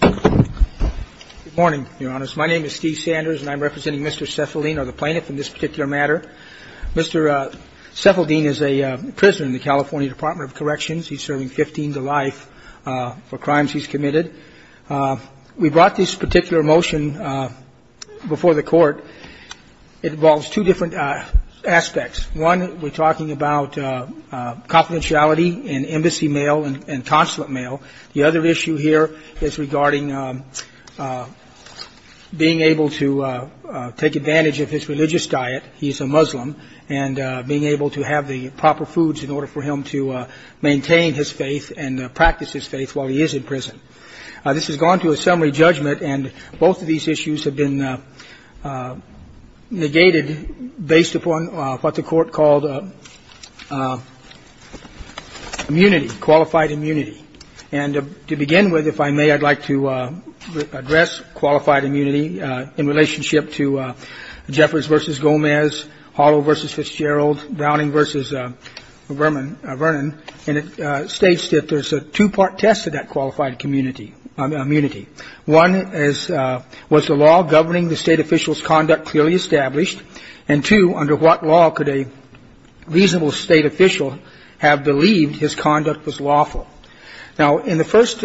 Good morning, your honors. My name is Steve Sanders, and I'm representing Mr. Sefeldeen or the plaintiff in this particular matter. Mr. Sefeldeen is a prisoner in the California Department of Corrections. He's serving 15 to life for crimes he's committed. We brought this particular motion before the court. It involves two different aspects. One, we're talking about confidentiality in embassy mail and consulate mail. The other issue here is regarding being able to take advantage of his religious diet. He's a Muslim. And being able to have the proper foods in order for him to maintain his faith and practice his faith while he is in prison. This has gone to a summary judgment, and both of these issues have been negated based upon what the court called immunity, qualified immunity. And to begin with, if I may, I'd like to address qualified immunity in relationship to Jeffers v. Gomez, Hollow v. Fitzgerald, Browning v. Vernon. And it states that there's a two-part test of that qualified immunity. One is, was the law governing the state official's conduct clearly established? And two, under what law could a reasonable state official have believed his conduct was lawful? Now, in the first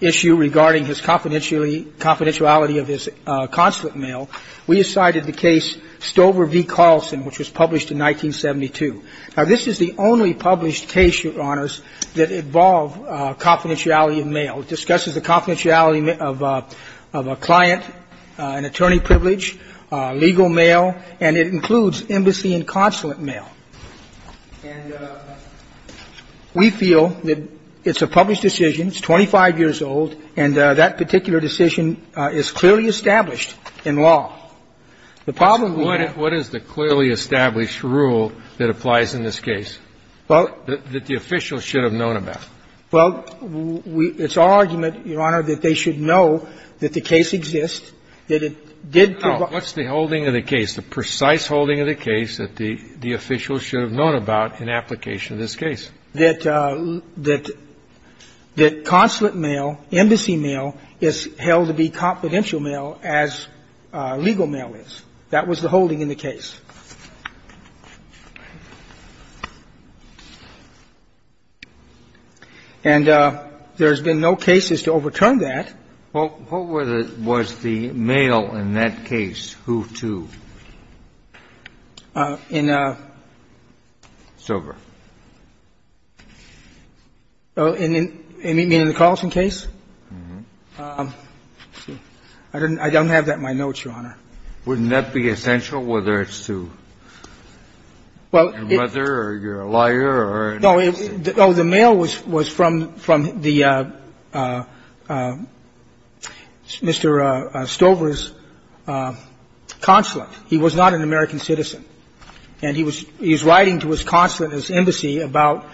issue regarding his confidentiality of his consulate mail, we cited the case Stover v. Carlson, which was published in 1972. Now, this is the only published case, Your Honors, that involved confidentiality of mail. It discusses the confidentiality of a client, an attorney privilege, legal mail, and it includes embassy and consulate mail. And we feel that it's a published decision. It's 25 years old, and that particular decision is clearly established in law. The problem we have -- What is the clearly established rule that applies in this case? Well -- That the official should have known about? Well, it's our argument, Your Honor, that they should know that the case exists, that it did provide -- Now, what's the holding of the case, the precise holding of the case that the official should have known about in application of this case? That consulate mail, embassy mail, is held to be confidential mail as legal mail is. That was the holding in the case. And there's been no cases to overturn that. Well, what was the mail in that case? Who to? In a- Stover. In the Carlson case? Mm-hmm. I don't have that in my notes, Your Honor. Wouldn't that be essential, whether it's to your mother or your lawyer or--? No. Oh, the mail was from the Mr. Stover's consulate. He was not an American citizen. And he was writing to his consulate and his embassy about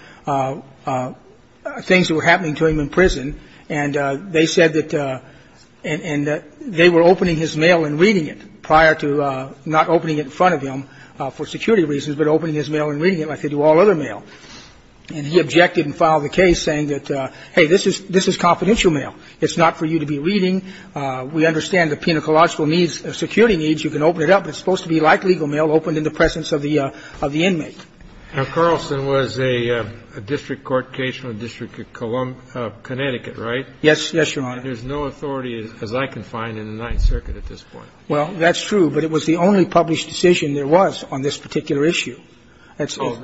things that were happening to him in prison. And they said that they were opening his mail and reading it prior to not opening it in front of him for security reasons, but opening his mail and reading it like they do all other mail. And he objected and filed the case saying that, hey, this is confidential mail. It's not for you to be reading. We understand the pedagogical needs, security needs. You can open it up. It's supposed to be like legal mail, opened in the presence of the inmate. Now, Carlson was a district court case from the District of Connecticut, right? Yes. Yes, Your Honor. And there's no authority, as I can find, in the Ninth Circuit at this point. Well, that's true, but it was the only published decision there was on this particular issue. That's- Oh,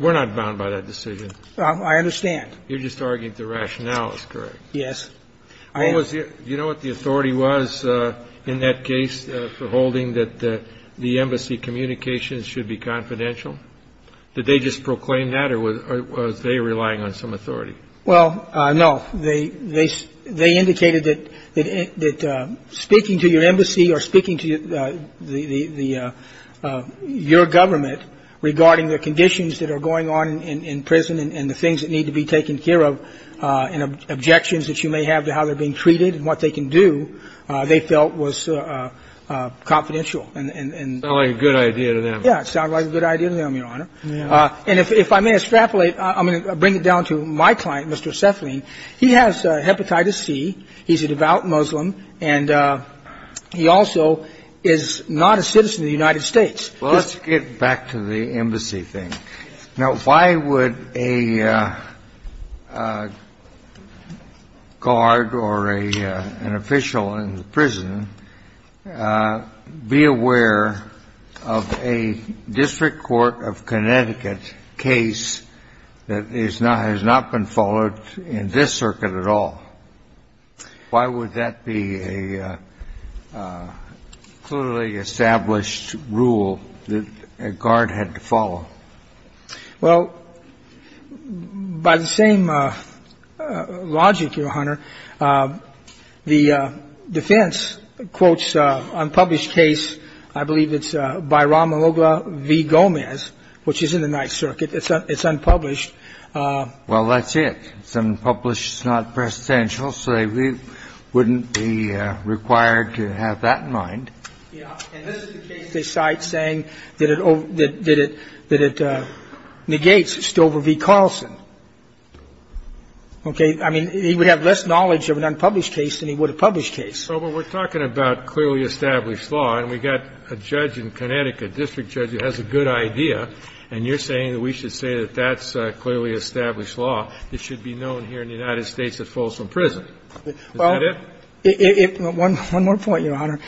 we're not bound by that decision. I understand. You're just arguing the rationale is correct. Yes. I am. Do you know what the authority was in that case for holding that the embassy communications should be confidential? Did they just proclaim that, or was they relying on some authority? Well, no. They indicated that speaking to your embassy or speaking to your government regarding the conditions that are going on in prison and the things that need to be treated and what they can do, they felt was confidential. It sounded like a good idea to them. Yes. It sounded like a good idea to them, Your Honor. And if I may extrapolate, I'm going to bring it down to my client, Mr. Cephalin. He has hepatitis C. He's a devout Muslim, and he also is not a citizen of the United States. Well, let's get back to the embassy thing. Now, why would a guard or an official in the prison be aware of a District Court of Connecticut case that has not been followed in this circuit at all? Why would that be a clearly established rule that a guard had to follow? Well, by the same logic, Your Honor, the defense quotes unpublished case, I believe it's by Ramalogla v. Gomez, which is in the Ninth Circuit. It's unpublished. Well, that's it. It's unpublished. It's not presidential, so they wouldn't be required to have that in mind. Yeah. And this is the case they cite saying that it negates Stover v. Carlson. Okay? I mean, he would have less knowledge of an unpublished case than he would a published case. Well, we're talking about clearly established law, and we've got a judge in Connecticut, a district judge who has a good idea, and you're saying that we should say that that's clearly established law. It should be known here in the United States it falls from prison. Is that it? Well, it – one more point, Your Honor.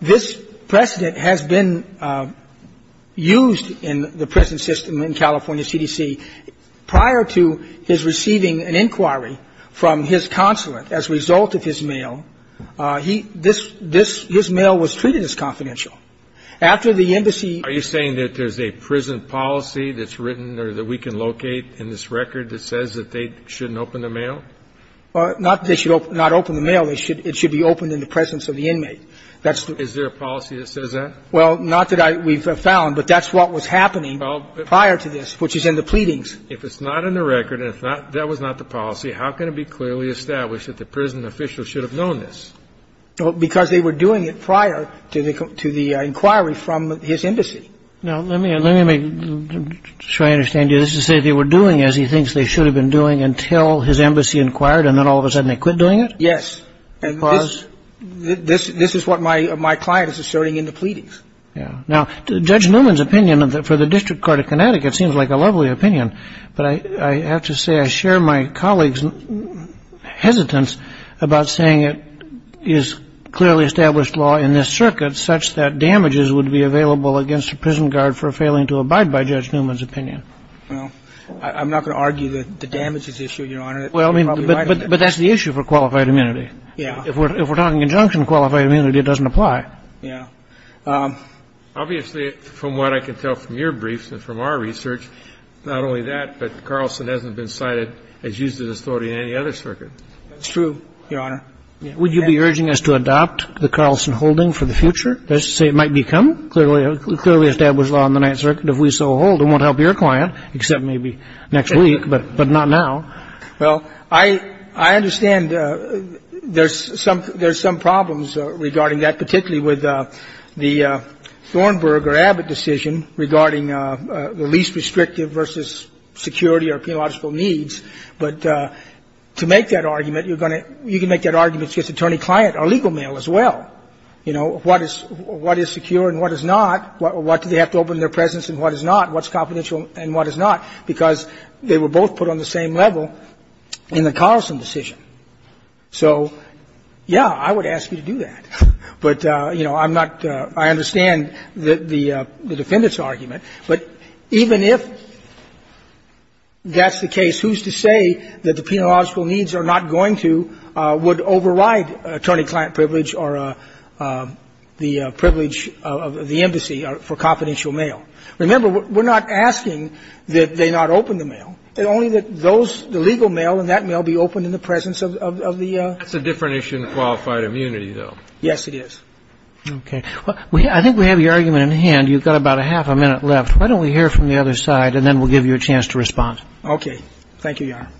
This precedent has been used in the prison system in California CDC. Prior to his receiving an inquiry from his consulate as a result of his mail, he – this – his mail was treated as confidential. After the embassy – Are you saying that there's a prison policy that's written or that we can locate in this record that says that they shouldn't open the mail? Well, not that they should not open the mail. It should be opened in the presence of the inmate. That's the – Is there a policy that says that? Well, not that I – we've found, but that's what was happening prior to this, which is in the pleadings. If it's not in the record and if that was not the policy, how can it be clearly established that the prison official should have known this? Because they were doing it prior to the – to the inquiry from his embassy. Now, let me – let me make sure I understand you. This is to say they were doing as he thinks they should have been doing until his embassy inquired and then all of a sudden they quit doing it? Yes. Because – This – this is what my client is asserting in the pleadings. Yeah. Now, Judge Newman's opinion for the District Court of Connecticut seems like a lovely opinion, but I – I have to say I share my colleague's hesitance about saying it is clearly established law in this circuit such that damages would be available against a prison guard for failing to abide by Judge Newman's opinion. Well, I'm not going to argue that the damages issue, Your Honor. Well, I mean, but that's the issue for qualified immunity. Yeah. If we're – if we're talking in conjunction with qualified immunity, it doesn't apply. Yeah. Obviously, from what I can tell from your briefs and from our research, not only that, but Carlson hasn't been cited as used as authority in any other circuit. That's true, Your Honor. Would you be urging us to adopt the Carlson holding for the future? That's to say it might become clearly – clearly established law in the Ninth Circuit if we so hold and won't help your client, except maybe next week, but – but not now. Well, I – I understand there's some – there's some problems regarding that, particularly with the Thornburg or Abbott decision regarding the least restrictive versus security or penological needs. But to make that argument, you're going to – you can make that argument against attorney-client or legal mail as well. You know, what is – what is secure and what is not? What do they have to open in their presence and what is not? What's confidential and what is not? Because they were both put on the same level in the Carlson decision. So, yeah, I would ask you to do that. But, you know, I'm not – I understand the defendant's argument. But even if that's the case, who's to say that the penological needs are not going to – would override attorney-client privilege or the privilege of the embassy for confidential mail? Remember, we're not asking that they not open the mail, only that those – the legal mail and that mail be opened in the presence of the – That's a different issue than qualified immunity, though. Yes, it is. Okay. Well, I think we have your argument in hand. You've got about a half a minute left. Why don't we hear from the other side, and then we'll give you a chance to respond. Okay. Thank you, Your Honor.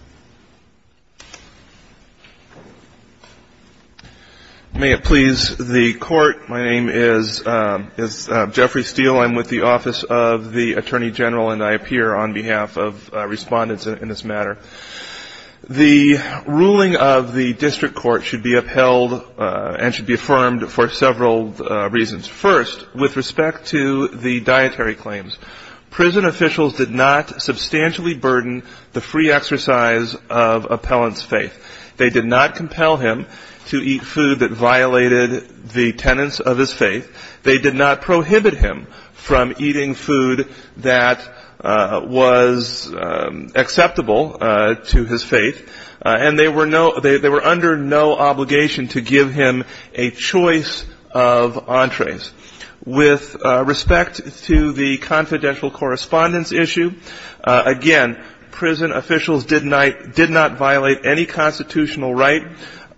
May it please the Court, my name is Jeffrey Steele. I'm with the Office of the Attorney General, and I appear on behalf of respondents in this matter. The ruling of the district court should be upheld and should be affirmed for several reasons. First, with respect to the dietary claims, prison officials did not substantially burden the free exercise of appellant's faith. They did not compel him to eat food that violated the tenets of his faith. They did not prohibit him from eating food that was acceptable to his faith. And they were under no obligation to give him a choice of entrees. With respect to the confidential correspondence issue, again, prison officials did not violate any constitutional right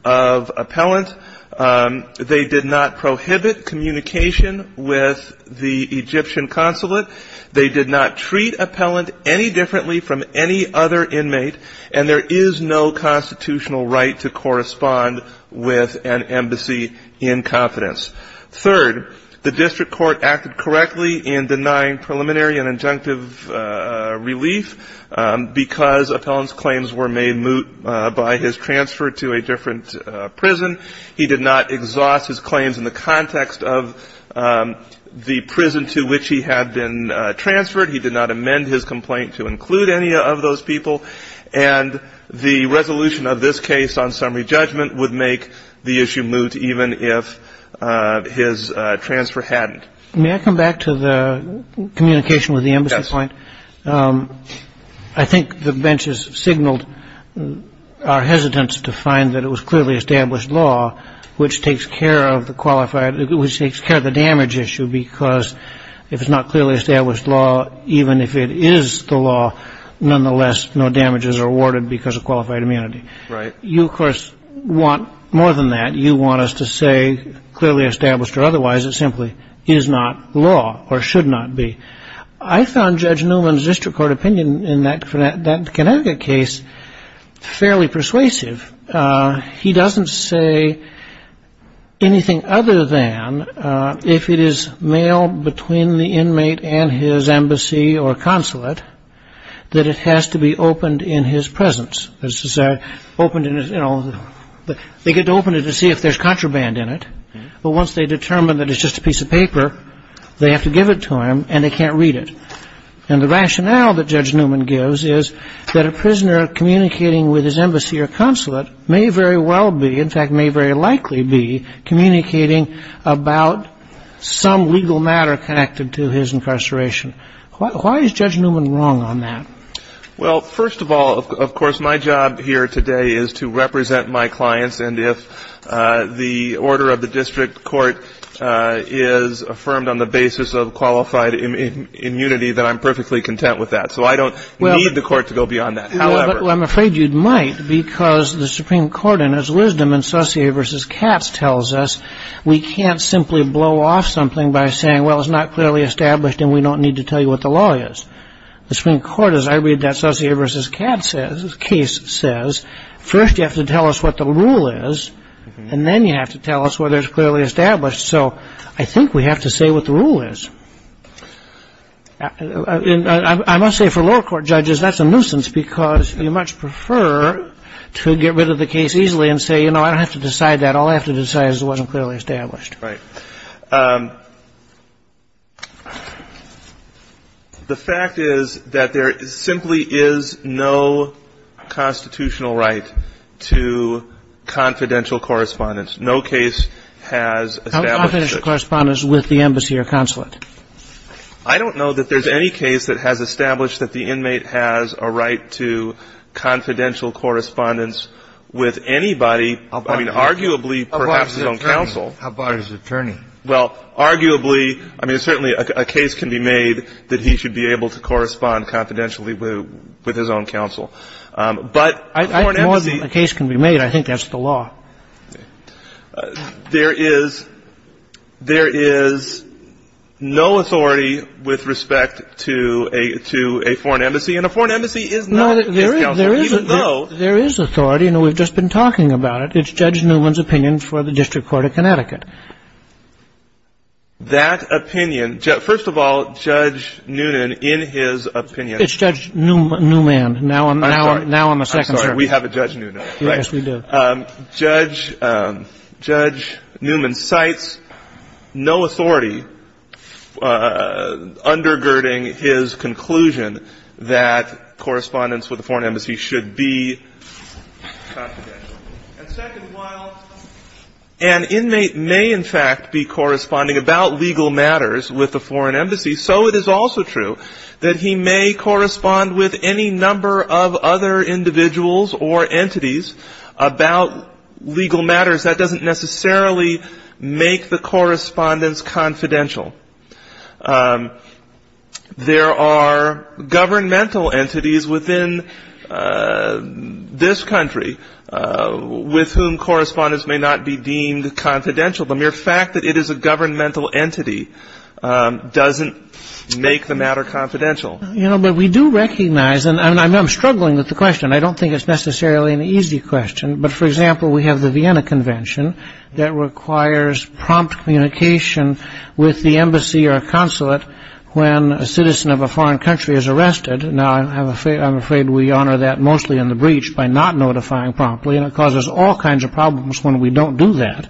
of appellant. They did not prohibit communication with the Egyptian consulate. They did not treat appellant any differently from any other inmate. And there is no constitutional right to correspond with an embassy in confidence. Third, the district court acted correctly in denying preliminary and injunctive relief, because appellant's claims were made moot by his transfer to a different prison. He did not exhaust his claims in the context of the prison to which he had been transferred. He did not amend his complaint to include any of those people. And the resolution of this case on summary judgment would make the issue moot even if his transfer hadn't. May I come back to the communication with the embassy point? Yes. I think the benches signaled our hesitance to find that it was clearly established law, which takes care of the qualified, which takes care of the damage issue, because if it's not clearly established law, even if it is the law, nonetheless no damages are awarded because of qualified immunity. Right. You, of course, want more than that. You want us to say clearly established or otherwise it simply is not law or should not be. I found Judge Newman's district court opinion in that Connecticut case fairly persuasive. He doesn't say anything other than if it is mailed between the inmate and his embassy or consulate, that it has to be opened in his presence. They get to open it to see if there's contraband in it. But once they determine that it's just a piece of paper, they have to give it to him and they can't read it. And the rationale that Judge Newman gives is that a prisoner communicating with his embassy or consulate may very well be, in fact may very likely be, communicating about some legal matter connected to his incarceration. Why is Judge Newman wrong on that? Well, first of all, of course, my job here today is to represent my clients. And if the order of the district court is affirmed on the basis of qualified immunity, then I'm perfectly content with that. So I don't need the court to go beyond that. However ---- Well, I'm afraid you might because the Supreme Court, in its wisdom, in Saussure v. Katz tells us we can't simply blow off something by saying, well, it's not clearly established and we don't need to tell you what the law is. The Supreme Court, as I read that Saussure v. Katz case, says first you have to tell us what the rule is and then you have to tell us whether it's clearly established. So I think we have to say what the rule is. And I must say for lower court judges, that's a nuisance because you much prefer to get rid of the case easily and say, you know, I don't have to decide that. All I have to decide is it wasn't clearly established. Right. The fact is that there simply is no constitutional right to confidential correspondence. No case has established it. How confidential correspondence with the embassy or consulate? I don't know that there's any case that has established that the inmate has a right to confidential correspondence with anybody, I mean, arguably perhaps his own counsel. How about his attorney? Well, arguably, I mean, certainly a case can be made that he should be able to correspond confidentially with his own counsel. But a foreign embassy. More than a case can be made. I think that's the law. There is no authority with respect to a foreign embassy. And a foreign embassy is not his counsel, even though. There is authority, and we've just been talking about it. It's Judge Newman's opinion for the District Court of Connecticut. That opinion. First of all, Judge Newman, in his opinion. It's Judge Newman. Now I'm a second, sir. I'm sorry. We have a Judge Newman. Yes, we do. Judge Newman cites no authority undergirding his conclusion that correspondence with a foreign embassy should be confidential. And second, while an inmate may in fact be corresponding about legal matters with a foreign embassy, so it is also true that he may correspond with any number of other individuals or entities about legal matters. That doesn't necessarily make the correspondence confidential. There are governmental entities within this country with whom correspondence may not be deemed confidential. The mere fact that it is a governmental entity doesn't make the matter confidential. You know, but we do recognize, and I'm struggling with the question. I don't think it's necessarily an easy question. But, for example, we have the Vienna Convention that requires prompt communication with the embassy or consulate when a citizen of a foreign country is arrested. Now I'm afraid we honor that mostly in the breach by not notifying promptly, and it causes all kinds of problems when we don't do that.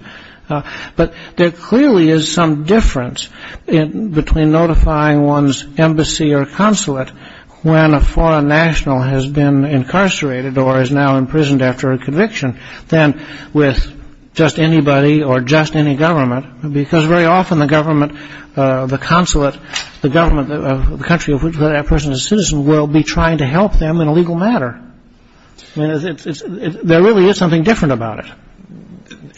But there clearly is some difference between notifying one's embassy or consulate when a foreign national has been incarcerated or is now imprisoned after a conviction than with just anybody or just any government because very often the government, the consulate, the government, the country of which that person is a citizen will be trying to help them in a legal matter. I mean, there really is something different about it.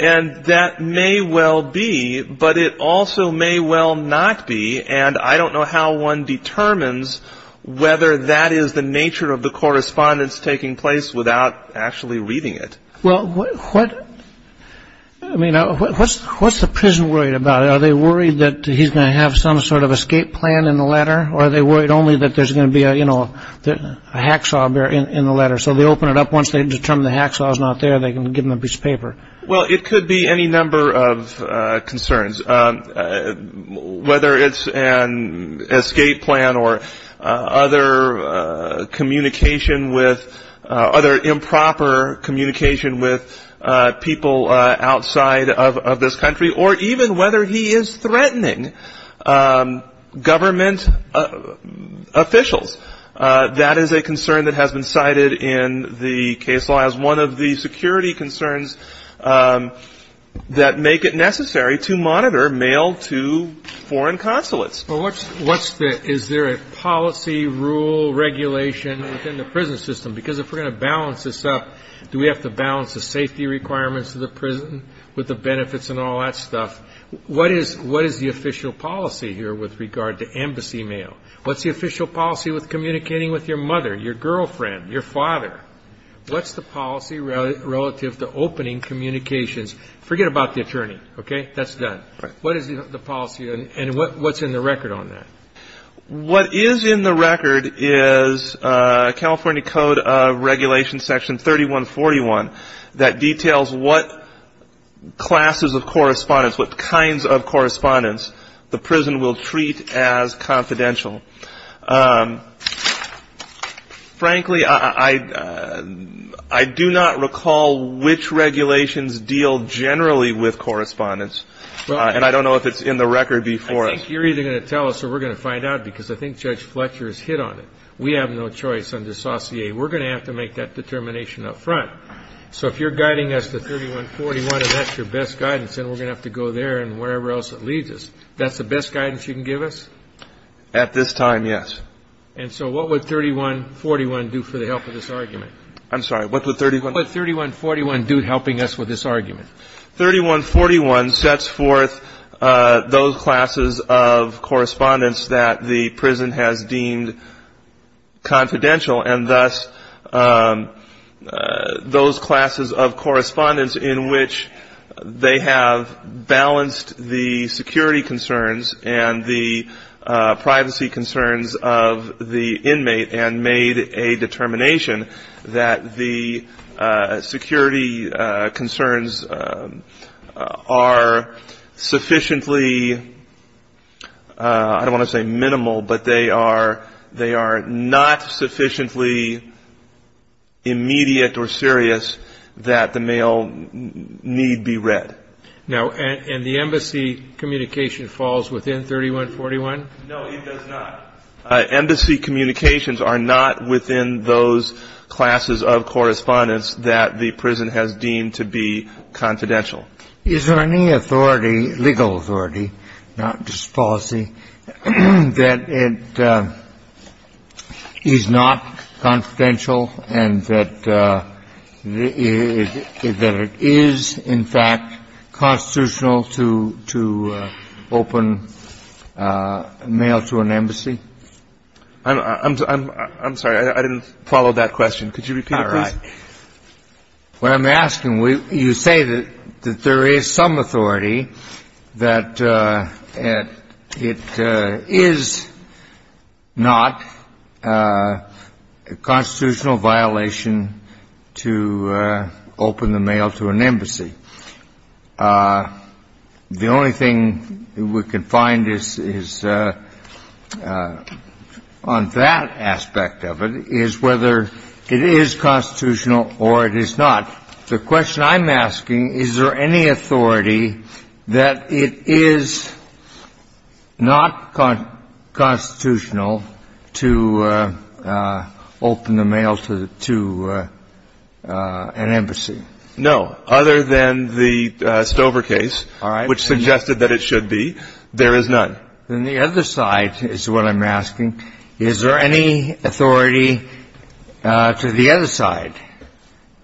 And that may well be, but it also may well not be, and I don't know how one determines whether that is the nature of the correspondence taking place without actually reading it. Well, what, I mean, what's the prison worried about? Are they worried that he's going to have some sort of escape plan in the letter? Or are they worried only that there's going to be a, you know, a hacksaw in the letter so they open it up once they determine the hacksaw is not there and they can give him a piece of paper? Well, it could be any number of concerns, whether it's an escape plan or other communication with, other improper communication with people outside of this country, or even whether he is threatening government officials. That is a concern that has been cited in the case law as one of the security concerns that make it necessary to monitor mail to foreign consulates. Well, what's the, is there a policy, rule, regulation within the prison system? Because if we're going to balance this up, do we have to balance the safety requirements of the prison with the benefits and all that stuff? What is the official policy here with regard to embassy mail? What's the official policy with communicating with your mother, your girlfriend, your father? What's the policy relative to opening communications? Forget about the attorney, okay? That's done. What is the policy and what's in the record on that? What is in the record is California Code of Regulations, Section 3141, that details what classes of correspondence, what kinds of correspondence the prison will treat as confidential. Frankly, I do not recall which regulations deal generally with correspondence. And I don't know if it's in the record before us. I think you're either going to tell us or we're going to find out because I think Judge Fletcher has hit on it. We have no choice under Saucier. We're going to have to make that determination up front. So if you're guiding us to 3141 and that's your best guidance, then we're going to have to go there and wherever else it leads us. That's the best guidance you can give us? At this time, yes. And so what would 3141 do for the help of this argument? I'm sorry. What would 3141 do helping us with this argument? 3141 sets forth those classes of correspondence that the prison has deemed confidential and thus those classes of correspondence in which they have balanced the security concerns and the privacy concerns of the inmate and made a determination that the security concerns are sufficiently, I don't want to say minimal, but they are not sufficiently immediate or serious that the male need be read. Now, and the embassy communication falls within 3141? No, it does not. Embassy communications are not within those classes of correspondence that the prison has deemed to be confidential. Is there any authority, legal authority, not just policy, that it is not confidential and that it is, in fact, constitutional to open mail to an embassy? I'm sorry. I didn't follow that question. Could you repeat it, please? All right. What I'm asking, you say that there is some authority that it is not a constitutional violation to open the mail to an embassy. The only thing we can find is, on that aspect of it, is whether it is constitutional or it is not. The question I'm asking, is there any authority that it is not constitutional to open the mail to an embassy? No. Other than the Stover case, which suggested that it should be, there is none. Then the other side is what I'm asking. Is there any authority to the other side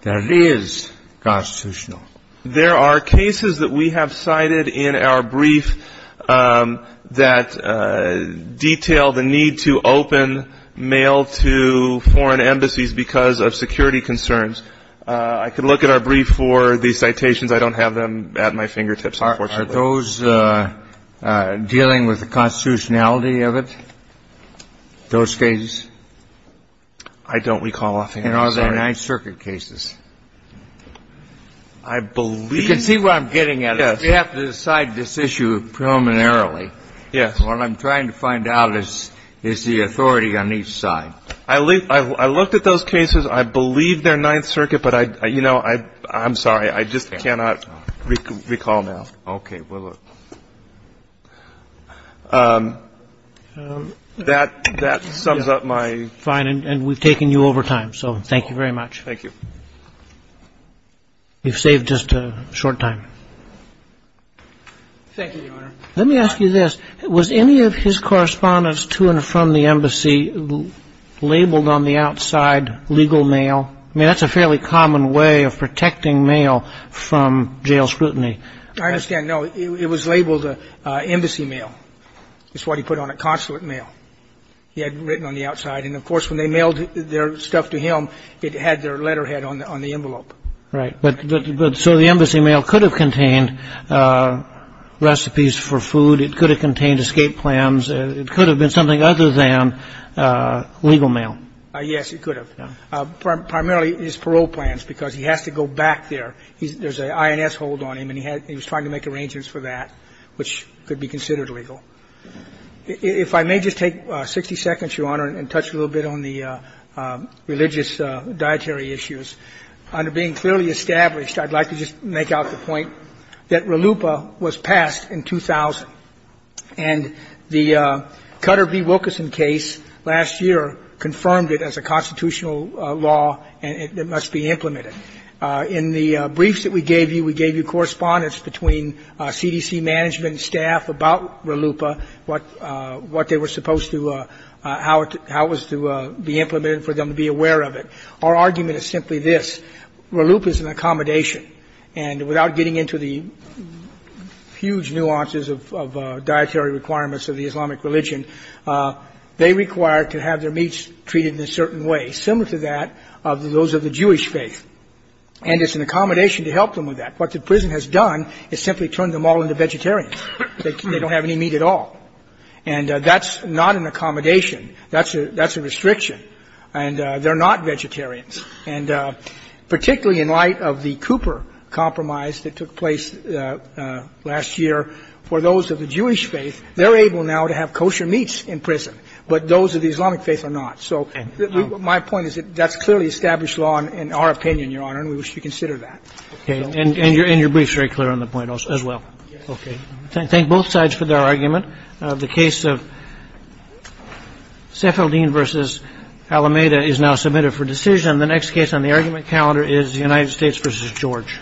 that it is constitutional? There are cases that we have cited in our brief that detail the need to open mail to foreign embassies because of security concerns. I can look at our brief for the citations. I don't have them at my fingertips, unfortunately. Are those dealing with the constitutionality of it, those cases? I don't recall offhand. And are they Ninth Circuit cases? I believe you have to decide this issue preliminarily. Yes. What I'm trying to find out is, is the authority on each side. I looked at those cases. I believe they're Ninth Circuit. But, you know, I'm sorry. I just cannot recall now. Okay. Well, that sums up my ---- Fine. And we've taken you over time. So thank you very much. Thank you. We've saved just a short time. Thank you, Your Honor. Let me ask you this. Was any of his correspondence to and from the embassy labeled on the outside legal mail? I mean, that's a fairly common way of protecting mail from jail scrutiny. I understand. No, it was labeled embassy mail. That's what he put on it, consulate mail. He had it written on the outside. And, of course, when they mailed their stuff to him, it had their letterhead on the envelope. Right. So the embassy mail could have contained recipes for food. It could have contained escape plans. It could have been something other than legal mail. Yes, it could have. Primarily his parole plans, because he has to go back there. There's an INS hold on him, and he was trying to make arrangements for that, which could be considered legal. If I may just take 60 seconds, Your Honor, and touch a little bit on the religious dietary issues, under being clearly established, I'd like to just make out the point that in the briefs that we gave you, we gave you correspondence between CDC management staff about RLUIPA, what they were supposed to do, how it was to be implemented for them to be aware of it. Our argument is simply this. RLUIPA is an accommodation. And the reason I'm saying this is because the prison has done a very good job of explaining the dietary requirements of the Islamic religion. They require to have their meats treated in a certain way, similar to that of those of the Jewish faith. And it's an accommodation to help them with that. What the prison has done is simply turned them all into vegetarians. They don't have any meat at all. And that's not an accommodation. That's a restriction. And they're not vegetarians. And particularly in light of the Cooper compromise that took place last year, for those of the Jewish faith, they're able now to have kosher meats in prison. But those of the Islamic faith are not. So my point is that that's clearly established law in our opinion, Your Honor, and we wish to consider that. Okay. And your brief's very clear on the point as well. Okay. Thank both sides for their argument. The case of Sephardim v. Alameda is now submitted for decision. The next case on the argument calendar is the United States v. George.